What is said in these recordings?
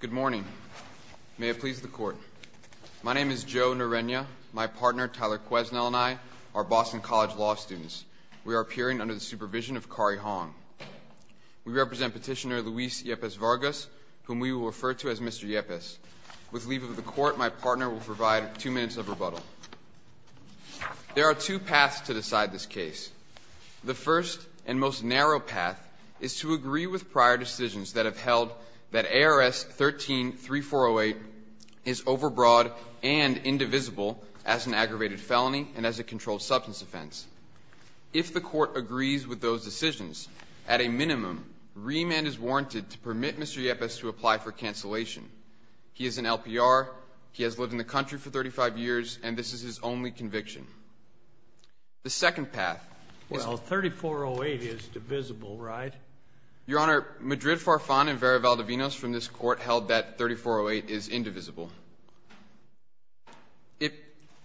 Good morning. May it please the court. My name is Joe Norenya. My partner, Tyler Queznell, and I are Boston College law students. We are appearing under the supervision of Kari Hong. We represent Petitioner Luis Yepez-Vargas, whom we will refer to as Mr. Yepez. With leave of the court, my partner will provide two minutes of rebuttal. There are two paths to decide this case. One is to agree with prior decisions that have held that ARS 13-3408 is overbroad and indivisible as an aggravated felony and as a controlled substance offense. If the court agrees with those decisions, at a minimum, remand is warranted to permit Mr. Yepez to apply for cancellation. He is an LPR. He has lived in the country for 35 years, and this is his only Your Honor, Madrid Farfan and Vera Valdivinos from this court held that 3408 is indivisible.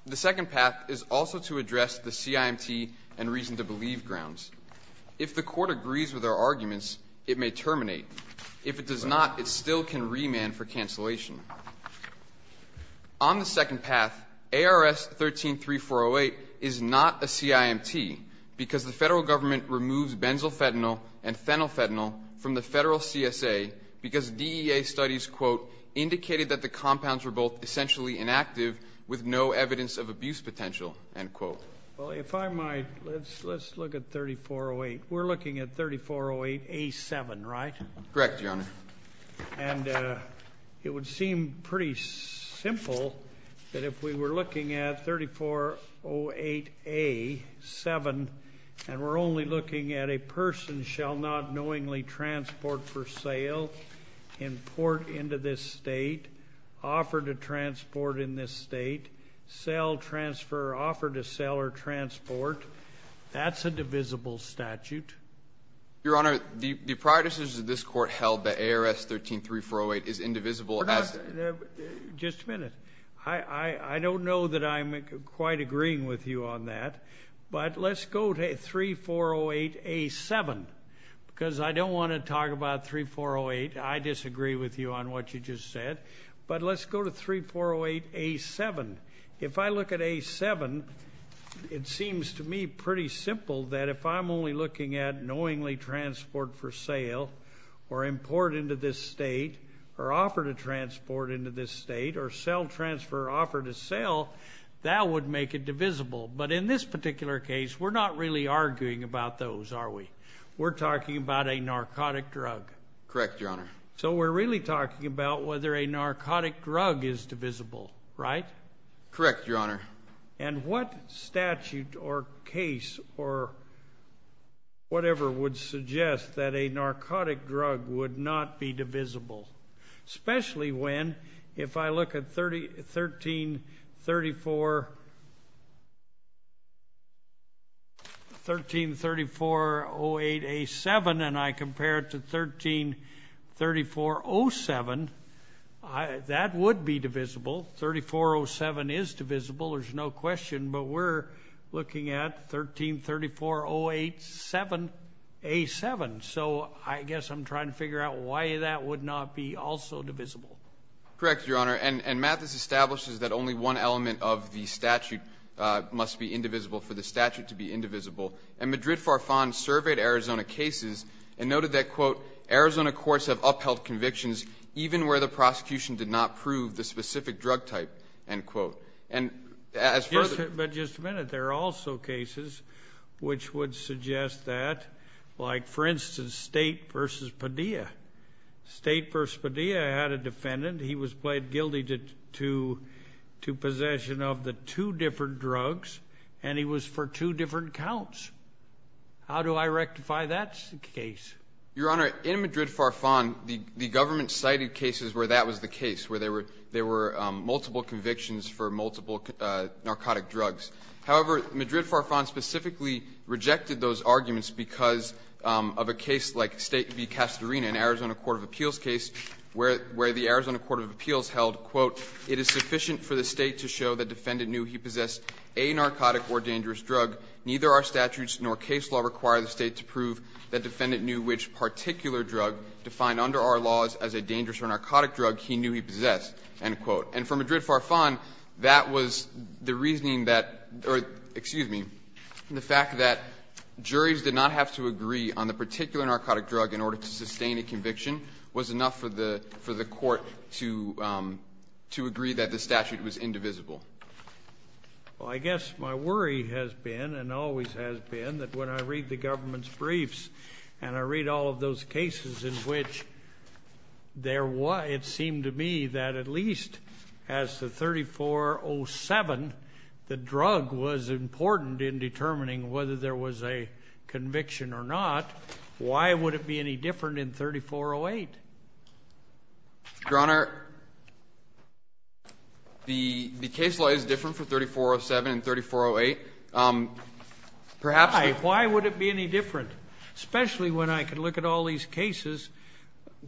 The second path is also to address the CIMT and reason to believe grounds. If the court agrees with our arguments, it may terminate. If it does not, it still can remand for cancellation. On the second path, ARS 13-3408 is not a CIMT because the federal government removes benzophenyl and phenylphenol from the federal CSA because DEA studies, quote, indicated that the compounds were both essentially inactive with no evidence of abuse potential, end quote. Well, if I might, let's look at 3408. We're looking at 3408A7, right? Correct, Your Honor. And it would seem pretty simple that if we were looking at 3408A7, and we're only looking at a person shall not knowingly transport for sale, import into this state, offer to transport in this state, sell, transfer, offer to sell or transport, that's a divisible statute. Your Honor, the prior decisions of this court held that ARS 13-3408 is indivisible. Just a minute. I don't know that I'm quite agreeing with you on that, but let's go to 3408A7 because I don't want to talk about 3408. I disagree with you on what you just said, but let's go to 3408A7. If I look at A7, it seems to me pretty simple that if I'm only looking at knowingly transport for sale or import into this state or offer to transport into this state or sell, transfer, offer to sell, that would make it divisible. But in this particular case, we're not really arguing about those, are we? We're talking about a narcotic drug. Correct, Your Honor. So we're really talking about whether a narcotic is divisible, right? Correct, Your Honor. And what statute or case or whatever would suggest that a narcotic drug would not be divisible, especially when, if I look at 13-3408A7 and I would be divisible, 3407 is divisible, there's no question, but we're looking at 13-3408A7. So I guess I'm trying to figure out why that would not be also divisible. Correct, Your Honor. And Matt, this establishes that only one element of the statute must be indivisible for the statute to be indivisible. And Madrid Farfan surveyed Arizona cases and noted that quote, Arizona courts have specific drug type, end quote. But just a minute, there are also cases which would suggest that, like for instance, State v. Padilla. State v. Padilla had a defendant, he was pled guilty to possession of the two different drugs, and he was for two different counts. How do I rectify that case? Your Honor, in Madrid Farfan, the government cited cases where that was the case, where they were multiple convictions for multiple narcotic drugs. However, Madrid Farfan specifically rejected those arguments because of a case like State v. Castorina, an Arizona court of appeals case, where the Arizona court of appeals held, quote, it is sufficient for the State to show the defendant knew he possessed a narcotic or dangerous drug. Neither our statutes nor case law require the State to prove the defendant knew which particular drug defined under our laws as a dangerous or narcotic drug he knew he possessed, end quote. And for Madrid Farfan, that was the reasoning that, excuse me, the fact that juries did not have to agree on the particular narcotic drug in order to sustain a conviction was enough for the court to agree that the statute was indivisible. Well, I guess my worry has been and always has been that when I read the government's briefs and I read all of those cases in which there was, it seemed to me that at least as to 3407, the drug was important in determining whether there was a conviction or not, why would it be any different in 3408? Your Honor, the case law is different for 3407 and why would it be any different, especially when I could look at all these cases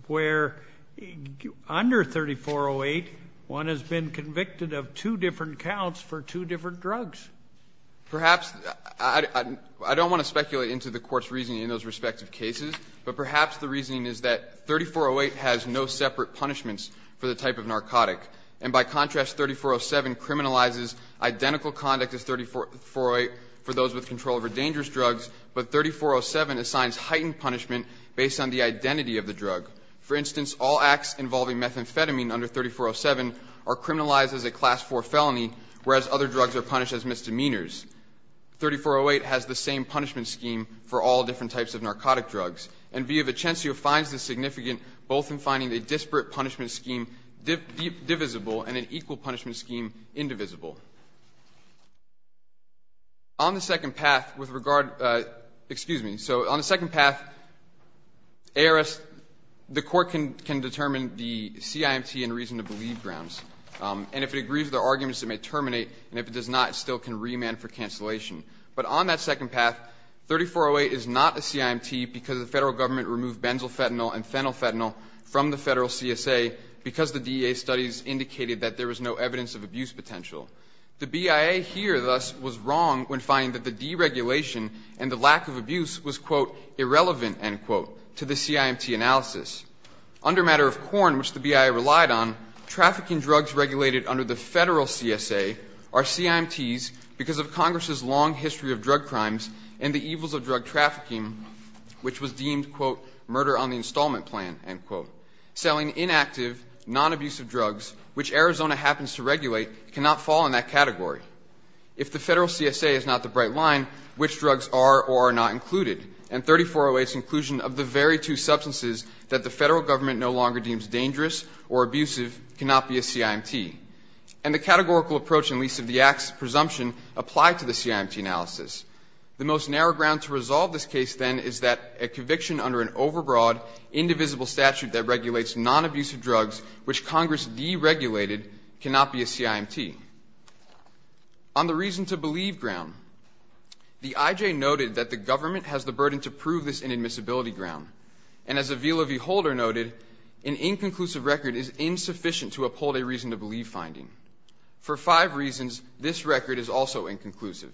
where under 3408, one has been convicted of two different counts for two different drugs? Perhaps. I don't want to speculate into the Court's reasoning in those respective cases, but perhaps the reasoning is that 3408 has no separate punishments for the type of narcotic. And by contrast, 3407 criminalizes identical conduct as 3408 for those with control over dangerous drugs, but 3407 assigns heightened punishment based on the identity of the drug. For instance, all acts involving methamphetamine under 3407 are criminalized as a class 4 felony, whereas other drugs are punished as misdemeanors. 3408 has the same punishment scheme for all different types of narcotic drugs. And v. Vicencio finds this significant both in finding a disparate punishment scheme divisible and an equal punishment scheme indivisible. On the second path, with regard to — excuse me. So on the second path, ARS, the Court can determine the CIMT and reason-to-believe grounds. And if it agrees with the arguments, it may terminate. And if it does not, it still can remand for cancellation. But on that second path, 3408 is not a CIMT because the Federal Government removed benzophenyl and phenylphenol from the Federal CSA because the DEA studies indicated that there was no evidence of abuse potential. The BIA here, thus, was wrong when finding that the deregulation and the lack of abuse was, quote, irrelevant, end quote, to the CIMT analysis. Under matter of Quorn, which the BIA relied on, trafficking drugs regulated under the Federal CSA are CIMTs because of Congress's long history of drug crimes and the evils of drug trafficking, which was deemed, quote, murder on the installment plan, end quote, Selling inactive, non-abusive drugs, which Arizona happens to regulate, cannot fall in that category. If the Federal CSA is not the bright line, which drugs are or are not included? And 3408's inclusion of the very two substances that the Federal Government no longer deems dangerous or abusive cannot be a CIMT. And the categorical approach and lease of the act's presumption apply to the CIMT analysis. The most narrow ground to resolve this case, then, is that a conviction under an overbroad, indivisible statute that regulates non-abusive drugs, which Congress deregulated, cannot be a CIMT. On the reason to believe ground, the IJ noted that the government has the burden to prove this inadmissibility ground. And as Avila V. Holder noted, an inconclusive record is insufficient to uphold a reason to believe finding. For five reasons, this record is also inconclusive.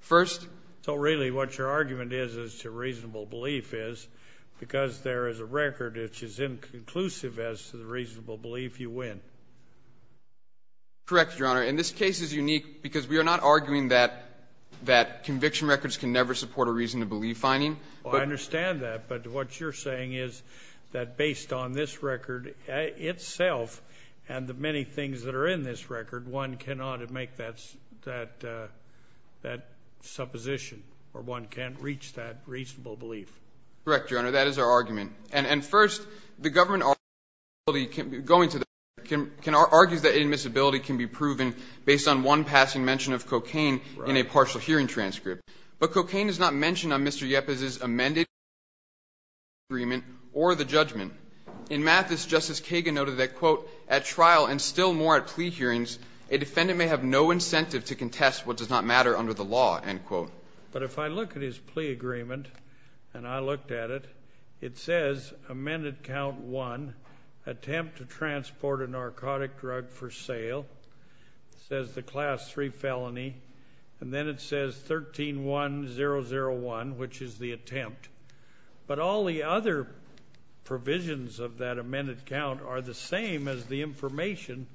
First, so really what your argument is as to reasonable belief is, because there is a record which is inconclusive as to the reasonable belief, you win. Correct, Your Honor. And this case is unique because we are not arguing that conviction records can never support a reason to believe finding. Well, I understand that. But what you're saying is that based on this record itself and the many things that are in this record, one cannot make that supposition or one can't reach that conclusion. Correct, Your Honor. That is our argument. And first, the government argues that inadmissibility can be proven based on one passing mention of cocaine in a partial hearing transcript. But cocaine is not mentioned on Mr. Yepes's amended plea agreement or the judgment. In Mathis, Justice Kagan noted that, quote, at trial and still more at plea hearings, a defendant may have no incentive to contest what does not matter under the law, end quote. But if I look at his plea agreement and I looked at it, it says, amended count 1, attempt to transport a narcotic drug for sale, says the class 3 felony, and then it says 131001, which is the attempt. But all the other provisions of that amended count are the same as the information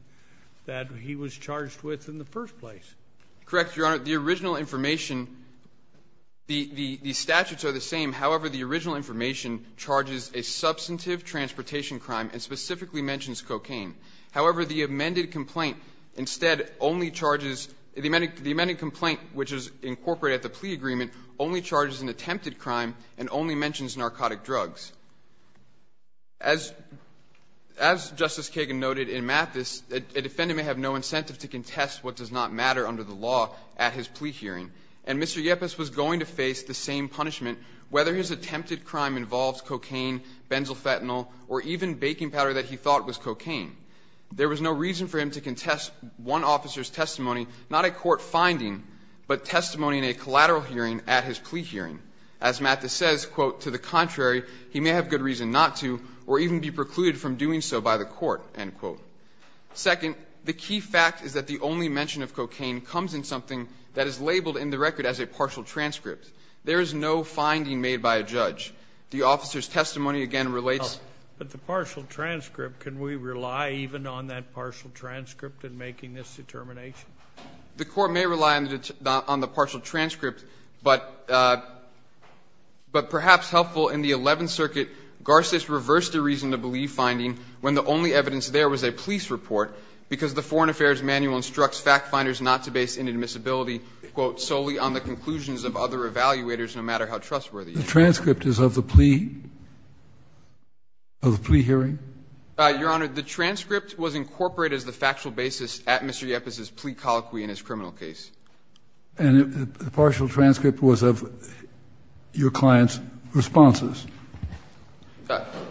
that he was charged with in the first place. Correct, Your Honor. The original information, the statutes are the same. However, the original information charges a substantive transportation crime and specifically mentions cocaine. However, the amended complaint instead only charges the amended complaint, which is incorporated at the plea agreement, only charges an attempted crime and only mentions narcotic drugs. As Justice Kagan noted in Mathis, a defendant may have no incentive to contest what does not matter under the law at his plea hearing. And Mr. Yepes was going to face the same punishment whether his attempted plea agreement or attempted crime involves cocaine, benzophenone, or even baking powder that he thought was cocaine. There was no reason for him to contest one officer's testimony, not a court finding, but testimony in a collateral hearing at his plea hearing. As Mathis says, quote, to the contrary, he may have good reason not to or even be precluded from doing so by the court, end quote. Second, the key fact is that the only mention of cocaine comes in something that is the officer's testimony again relates. But the partial transcript, can we rely even on that partial transcript in making this determination? The court may rely on the partial transcript, but perhaps helpful in the Eleventh Circuit, Garces reversed the reason to believe finding when the only evidence there was a police report because the Foreign Affairs Manual instructs fact finders not to base inadmissibility, quote, solely on the conclusions of other evaluators no matter how trustworthy. The transcript is of the plea, of the plea hearing? Your Honor, the transcript was incorporated as the factual basis at Mr. Yepez's plea colloquy in his criminal case. And the partial transcript was of your client's responses?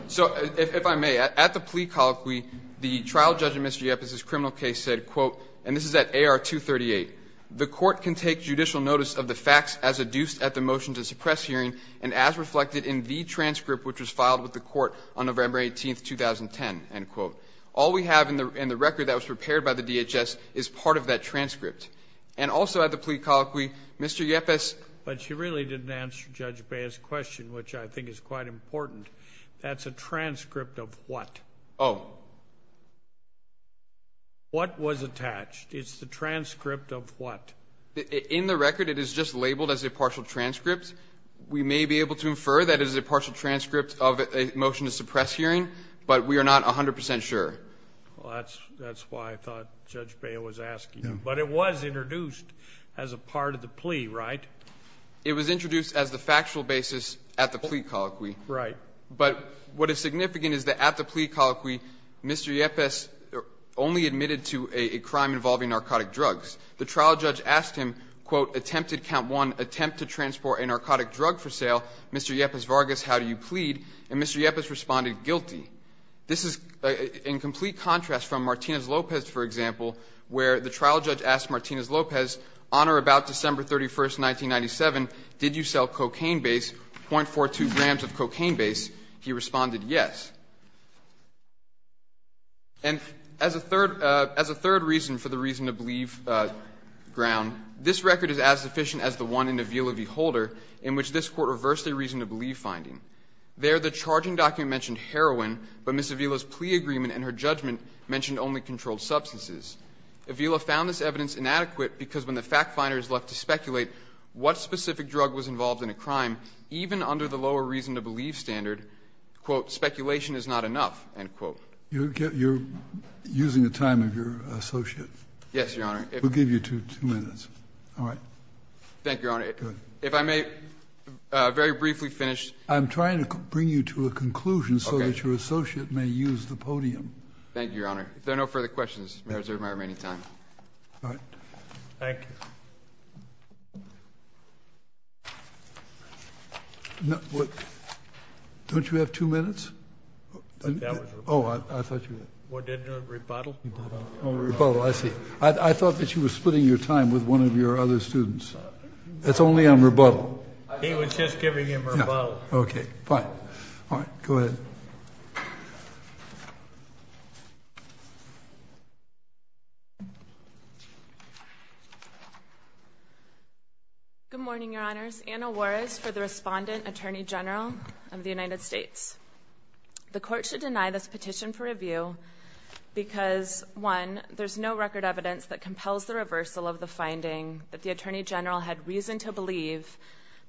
So if I may, at the plea colloquy, the trial judge in Mr. Yepez's criminal case said, quote, and this is at AR 238, the court can take judicial notice of the facts as adduced at the motion to suppress hearing and as reflected in the transcript which was filed with the court on November 18th, 2010, end quote. All we have in the record that was prepared by the DHS is part of that transcript. And also at the plea colloquy, Mr. Yepez. But you really didn't answer Judge Baez's question, which I think is quite important. That's a transcript of what? Oh. What was attached? It's the transcript of what? In the record, it is just labeled as a partial transcript. We may be able to infer that it is a partial transcript of a motion to suppress hearing, but we are not 100 percent sure. Well, that's why I thought Judge Baez was asking. But it was introduced as a part of the plea, right? It was introduced as the factual basis at the plea colloquy. Right. But what is significant is that at the plea colloquy, Mr. Yepez only admitted to a crime involving narcotic drugs. The trial judge asked him, quote, attempted count one, attempt to transport a narcotic drug for sale. Mr. Yepez Vargas, how do you plead? And Mr. Yepez responded, guilty. This is in complete contrast from Martinez-Lopez, for example, where the trial judge asked Martinez-Lopez, on or about December 31st, 1997, did you sell cocaine base, .42 grams of cocaine base? He responded, yes. And as a third reason for the reason to believe ground, this record is as sufficient as the one in Avila v. Holder, in which this Court reversed a reason to believe finding. There, the charging document mentioned heroin, but Ms. Avila's plea agreement and her judgment mentioned only controlled substances. Avila found this evidence inadequate because when the fact finder is left to speculate what specific drug was involved in a crime, even under the lower reason to believe standard, quote, speculation is not enough, end quote. You're using the time of your associate. Yes, Your Honor. We'll give you two minutes. All right. Thank you, Your Honor. If I may very briefly finish. I'm trying to bring you to a conclusion so that your associate may use the podium. Thank you, Your Honor. If there are no further questions, there is my remaining time. All right. Thank you. Don't you have two minutes? That was rebuttal. Oh, I thought you did. What did you do, rebuttal? Oh, rebuttal, I see. I thought that you were splitting your time with one of your other students. That's only on rebuttal. He was just giving him rebuttal. Okay, fine. All right, go ahead. Good morning, Your Honors. Anna Juarez for the Respondent Attorney General of the United States. The court should deny this petition for review because, one, there's no record evidence that compels the reversal of the finding that the Attorney General had reason to believe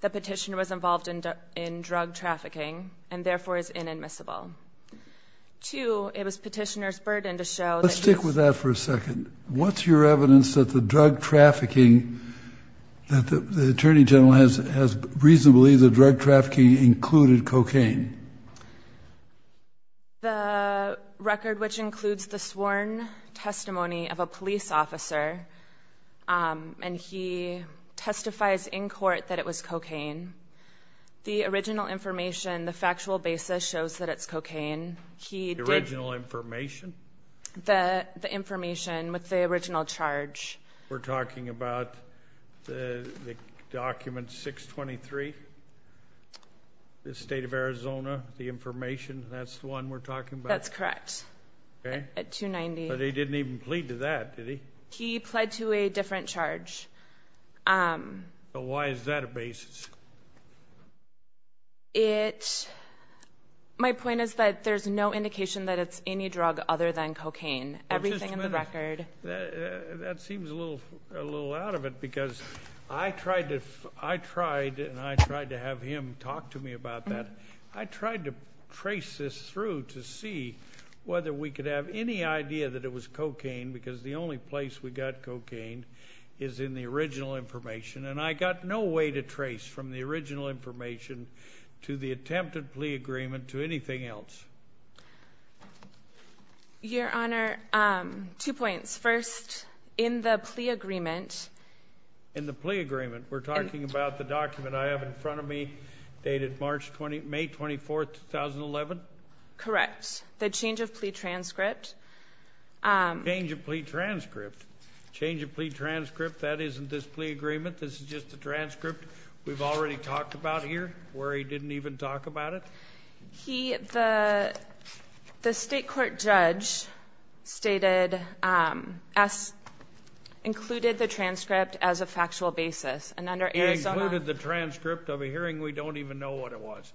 the petitioner was involved in drug trafficking and, therefore, is inadmissible. Two, it was petitioner's burden to show that he was. Let's stick with that for a second. What's your evidence that the drug trafficking that the Attorney General has reason to believe the drug trafficking included cocaine? The record, which includes the sworn testimony of a police officer, and he testifies in court that it was cocaine. The original information, the factual basis, shows that it's cocaine. The original information? The information with the original charge. We're talking about the document 623? The state of Arizona, the information, that's the one we're talking about? That's correct. Okay. At 290. But he didn't even plead to that, did he? He pled to a different charge. Why is that a basis? My point is that there's no indication that it's any drug other than cocaine. Everything in the record. That seems a little out of it because I tried to have him talk to me about that. I tried to trace this through to see whether we could have any idea that it was cocaine because the only place we got cocaine is in the original information, and I got no way to trace from the original information to the attempted plea agreement to anything else. Your Honor, two points. First, in the plea agreement. In the plea agreement? We're talking about the document I have in front of me dated May 24, 2011? Correct. The change of plea transcript. Change of plea transcript? Change of plea transcript, that isn't this plea agreement? This is just a transcript we've already talked about here where he didn't even talk about it? The state court judge stated included the transcript as a factual basis. He included the transcript of a hearing? We don't even know what it was.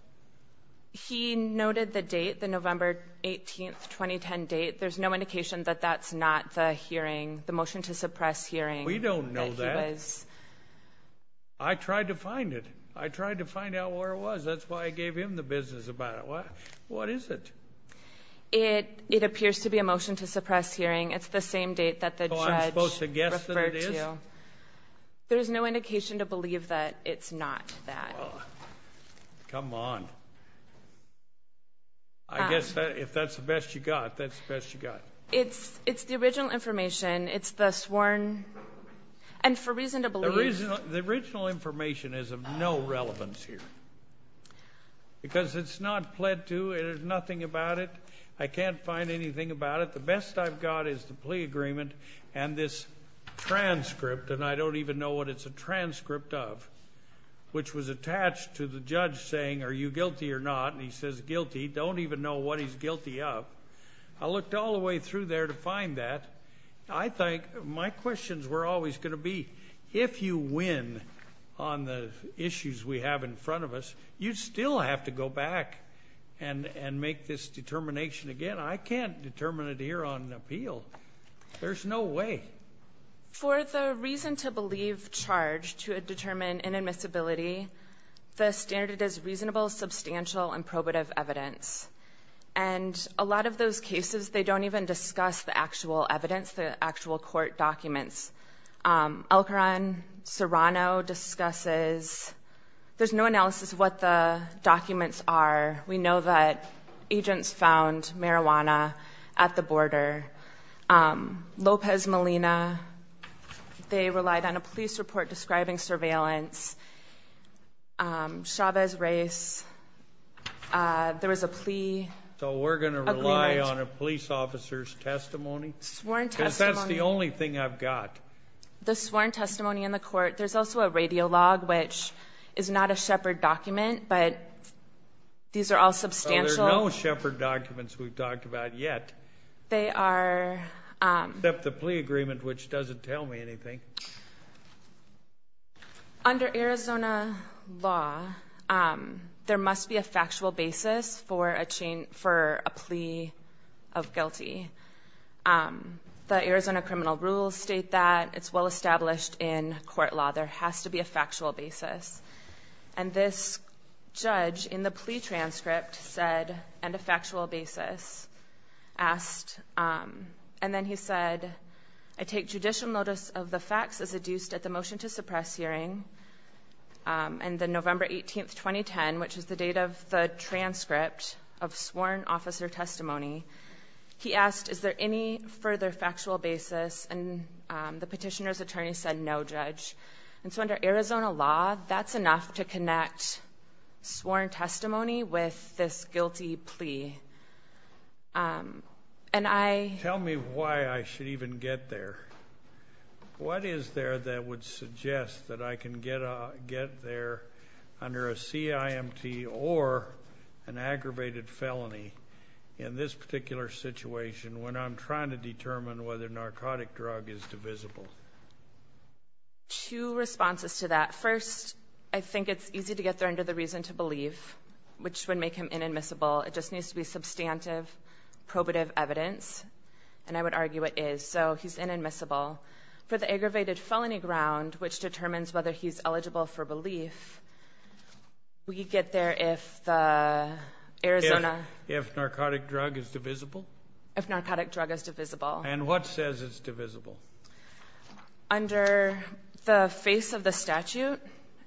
He noted the date, the November 18, 2010 date. There's no indication that that's not the hearing, the motion to suppress hearing. We don't know that. I tried to find it. I tried to find out where it was. That's why I gave him the business about it. What is it? It appears to be a motion to suppress hearing. It's the same date that the judge referred to. So I'm supposed to guess that it is? There's no indication to believe that it's not that. Come on. I guess if that's the best you got, that's the best you got. It's the original information. It's the sworn and for reason to believe. The original information is of no relevance here because it's not pled to. There's nothing about it. I can't find anything about it. The best I've got is the plea agreement and this transcript, and I don't even know what it's a transcript of, which was attached to the judge saying are you guilty or not, and he says guilty. I don't even know what he's guilty of. I looked all the way through there to find that. I think my questions were always going to be, if you win on the issues we have in front of us, you still have to go back and make this determination again. I can't determine it here on appeal. There's no way. For the reason to believe charge to determine inadmissibility, the standard is reasonable, substantial, and probative evidence. A lot of those cases, they don't even discuss the actual evidence, the actual court documents. El Coran Serrano discusses. There's no analysis of what the documents are. We know that agents found marijuana at the border. Lopez Molina, they relied on a police report describing surveillance. Chavez Reyes, there was a plea agreement. So we're going to rely on a police officer's testimony? Sworn testimony. Because that's the only thing I've got. The sworn testimony in the court. There's also a radiologue, which is not a Shepard document, but these are all substantial. There are no Shepard documents we've talked about yet. They are. Except the plea agreement, which doesn't tell me anything. Under Arizona law, there must be a factual basis for a plea of guilty. The Arizona criminal rules state that. It's well established in court law. There has to be a factual basis. And this judge in the plea transcript said, and a factual basis, asked, and then he said, I take judicial notice of the facts as adduced at the motion to suppress hearing. And then November 18, 2010, which is the date of the transcript of sworn officer testimony, he asked, is there any further factual basis? And the petitioner's attorney said, no, judge. And so under Arizona law, that's enough to connect sworn testimony with this guilty plea. Tell me why I should even get there. What is there that would suggest that I can get there under a CIMT or an aggravated felony in this particular situation when I'm trying to determine whether a narcotic drug is divisible? Two responses to that. First, I think it's easy to get there under the reason to believe, which would make him inadmissible. It just needs to be substantive probative evidence, and I would argue it is. So he's inadmissible. For the aggravated felony ground, which determines whether he's eligible for belief, we get there if the Arizona ---- If narcotic drug is divisible? If narcotic drug is divisible. And what says it's divisible? Under the face of the statute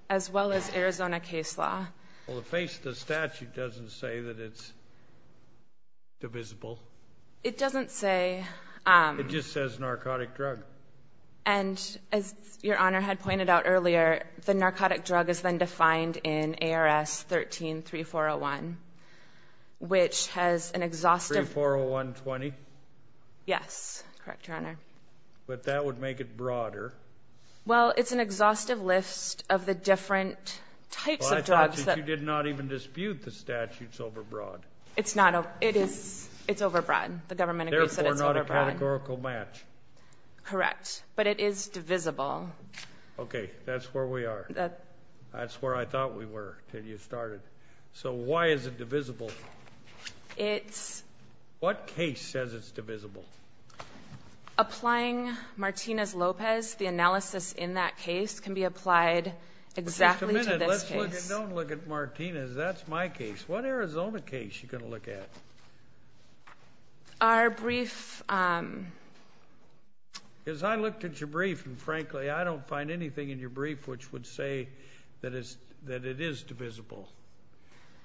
as well as Arizona case law. Well, the face of the statute doesn't say that it's divisible. It doesn't say. It just says narcotic drug. And as Your Honor had pointed out earlier, the narcotic drug is then defined in ARS 13-3401, which has an exhaustive ---- 3401-20? Correct, Your Honor. But that would make it broader. Well, it's an exhaustive list of the different types of drugs that ---- Well, I thought that you did not even dispute the statute's overbroad. It's not. It is. It's overbroad. The government agrees that it's overbroad. Therefore, not a categorical match. Correct. But it is divisible. Okay. That's where we are. That's where I thought we were until you started. So why is it divisible? It's ---- What case says it's divisible? Applying Martinez-Lopez, the analysis in that case, can be applied exactly to this case. Just a minute. Let's look and don't look at Martinez. That's my case. What Arizona case are you going to look at? Our brief. Because I looked at your brief, and frankly, I don't find anything in your brief which would say that it is divisible.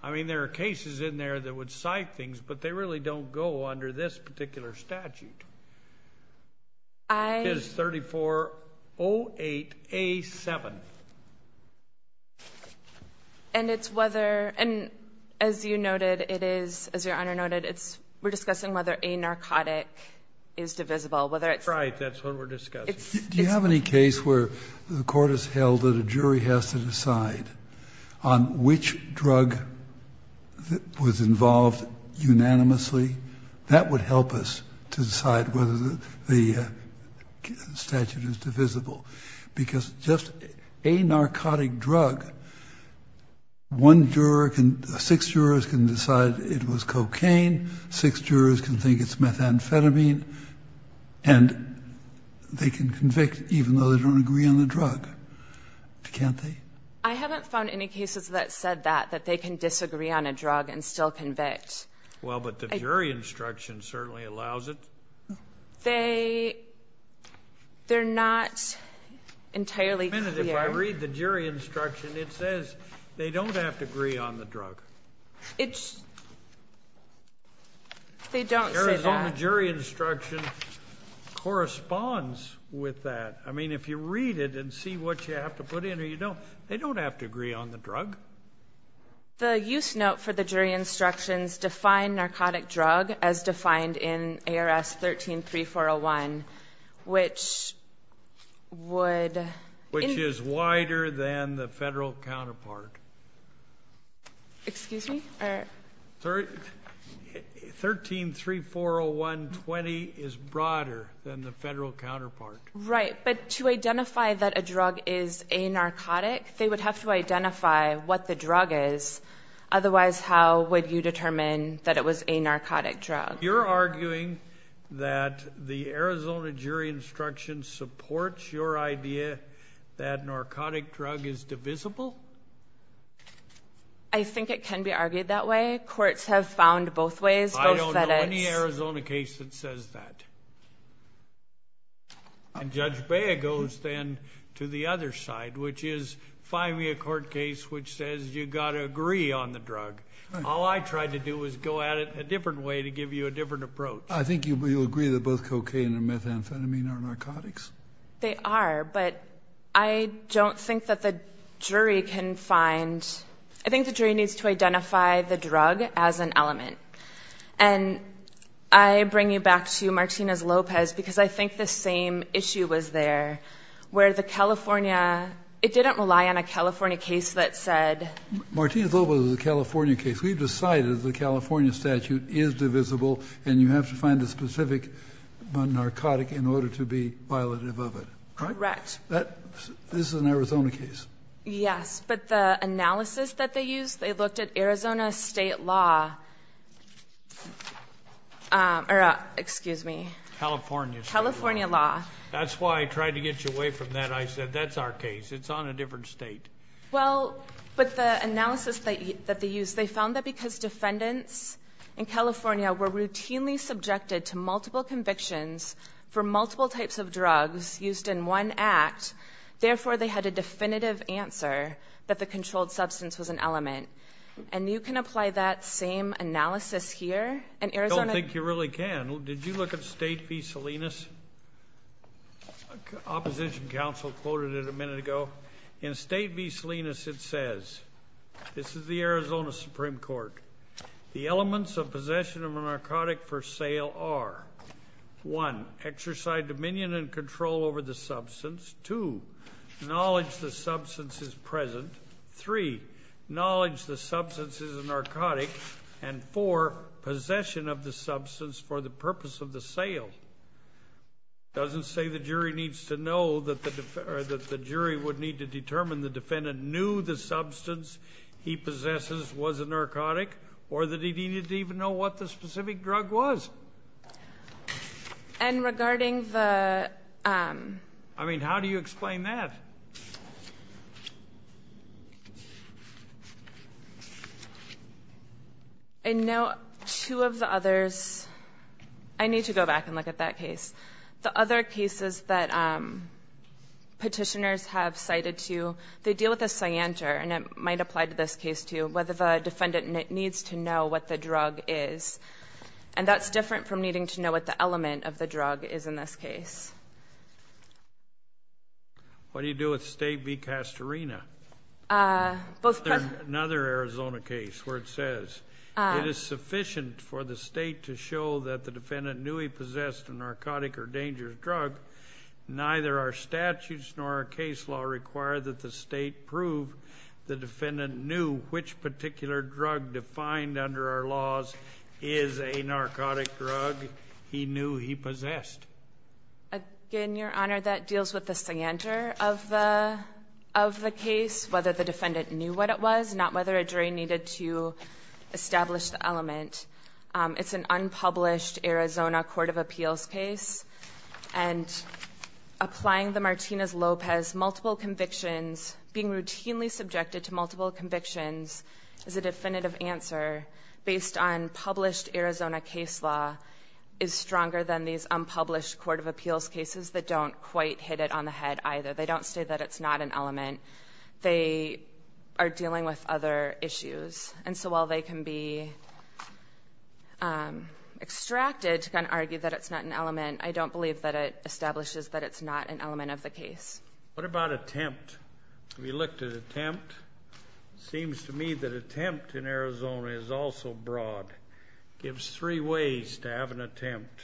I mean, there are cases in there that would cite things, but they really don't go under this particular statute. I ---- It's 3408A7. And it's whether, and as you noted, it is, as Your Honor noted, it's, we're discussing whether a narcotic is divisible. Whether it's ---- Right. That's what we're discussing. Do you have any case where the court has held that a jury has to decide on which drug was involved unanimously? That would help us to decide whether the statute is divisible. Because just a narcotic drug, one juror can, six jurors can decide it was cocaine, six jurors can think it's methamphetamine, and they can convict even though they don't agree on the drug. Can't they? I haven't found any cases that said that, that they can disagree on a drug and still convict. Well, but the jury instruction certainly allows it. They, they're not entirely clear. If I read the jury instruction, it says they don't have to agree on the drug. It's, they don't say that. The jury instruction corresponds with that. I mean, if you read it and see what you have to put in or you don't, they don't have to agree on the drug. The use note for the jury instructions define narcotic drug as defined in ARS 13-3401, which would ---- Which is wider than the federal counterpart. Excuse me? 13-3401-20 is broader than the federal counterpart. Right, but to identify that a drug is a narcotic, they would have to identify what the drug is. Otherwise, how would you determine that it was a narcotic drug? You're arguing that the Arizona jury instruction supports your idea that narcotic drug is divisible? I think it can be argued that way. Courts have found both ways. I don't know any Arizona case that says that. And Judge Bea goes then to the other side, which is finally a court case which says you've got to agree on the drug. All I tried to do was go at it a different way to give you a different approach. I think you'll agree that both cocaine and methamphetamine are narcotics? They are, but I don't think that the jury can find ---- I think the jury needs to identify the drug as an element. And I bring you back to Martinez-Lopez because I think the same issue was there where the California ---- it didn't rely on a California case that said ---- Martinez-Lopez is a California case. If we've decided the California statute is divisible and you have to find a specific narcotic in order to be violative of it. Correct. This is an Arizona case. Yes, but the analysis that they used, they looked at Arizona state law. Excuse me. California. California law. That's why I tried to get you away from that. I said that's our case. It's on a different state. Well, but the analysis that they used, they found that because defendants in California were routinely subjected to multiple convictions for multiple types of drugs used in one act, therefore they had a definitive answer that the controlled substance was an element. And you can apply that same analysis here in Arizona. I don't think you really can. Did you look at State v. Salinas? Opposition counsel quoted it a minute ago. In State v. Salinas it says, this is the Arizona Supreme Court, the elements of possession of a narcotic for sale are, one, exercise dominion and control over the substance, two, knowledge the substance is present, three, knowledge the substance is a narcotic, and four, possession of the substance for the purpose of the sale. It doesn't say the jury needs to know, or that the jury would need to determine the defendant knew the substance he possesses was a narcotic or that he needed to even know what the specific drug was. And regarding the... I mean, how do you explain that? I know two of the others. I need to go back and look at that case. The other cases that petitioners have cited to you, they deal with a scienter, and it might apply to this case too, whether the defendant needs to know what the drug is. And that's different from needing to know what the element of the drug is in this case. What do you do with State v. Castorina? Another Arizona case where it says, it is sufficient for the State to show that the defendant knew he possessed a narcotic or dangerous drug. Neither our statutes nor our case law require that the State prove the defendant knew which particular drug defined under our laws is a narcotic drug he knew he possessed. Again, Your Honor, that deals with the scienter of the case, whether the defendant knew what it was, not whether a jury needed to establish the element. It's an unpublished Arizona court of appeals case. And applying the Martinez-Lopez multiple convictions, being routinely subjected to multiple convictions is a definitive answer based on published Arizona case law is stronger than these unpublished court of appeals cases that don't quite hit it on the head either. They don't say that it's not an element. They are dealing with other issues. And so while they can be extracted to kind of argue that it's not an element, I don't believe that it establishes that it's not an element of the case. What about attempt? Have you looked at attempt? It seems to me that attempt in Arizona is also broad. It gives three ways to have an attempt.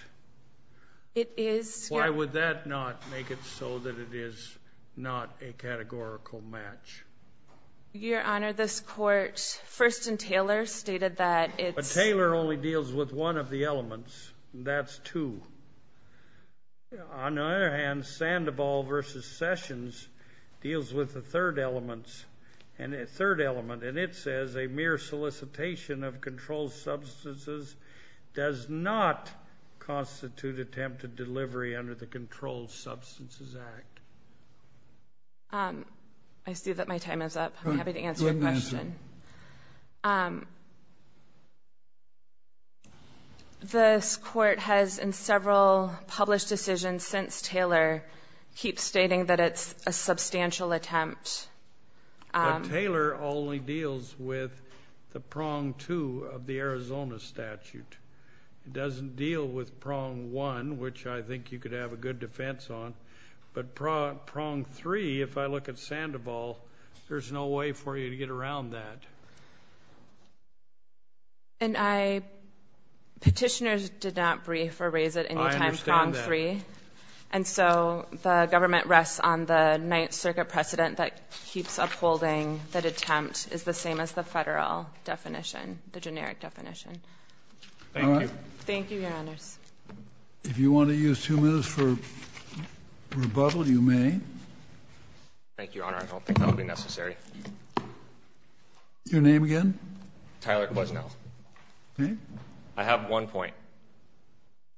It is. Why would that not make it so that it is not a categorical match? Your Honor, this court, First and Taylor, stated that it's... But Taylor only deals with one of the elements, and that's two. On the other hand, Sandoval v. Sessions deals with the third element, and it says a mere solicitation of controlled substances does not constitute attempted delivery under the Controlled Substances Act. I see that my time is up. Go ahead, Minister. Your Honor, this court has in several published decisions since Taylor keeps stating that it's a substantial attempt. But Taylor only deals with the prong two of the Arizona statute. It doesn't deal with prong one, which I think you could have a good defense on. But prong three, if I look at Sandoval, there's no way for you to get around that. Petitioners did not brief or raise it any time prong three. I understand that. And so the government rests on the Ninth Circuit precedent that keeps upholding that attempt is the same as the federal definition, the generic definition. Thank you. Thank you, Your Honors. If you want to use two minutes for rebuttal, you may. Thank you, Your Honor. I don't think that would be necessary. Your name again? Tyler Kwasno. I have one point.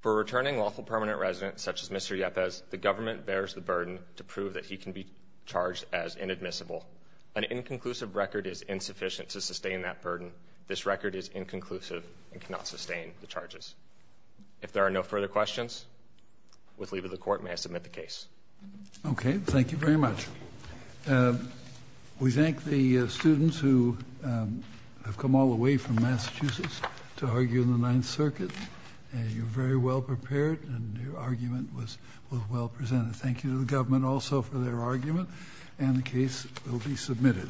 For returning lawful permanent residents such as Mr. Yepez, the government bears the burden to prove that he can be charged as inadmissible. An inconclusive record is insufficient to sustain that burden. This record is inconclusive and cannot sustain the charges. If there are no further questions, with leave of the court, may I submit the case? Okay. Thank you very much. We thank the students who have come all the way from Massachusetts to argue in the Ninth Circuit. You're very well prepared, and your argument was well presented. Thank you to the government also for their argument, and the case will be submitted.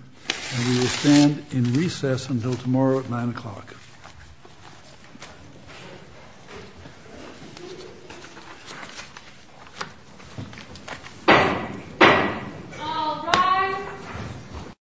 We will stand in recess until tomorrow at 9 o'clock. All rise.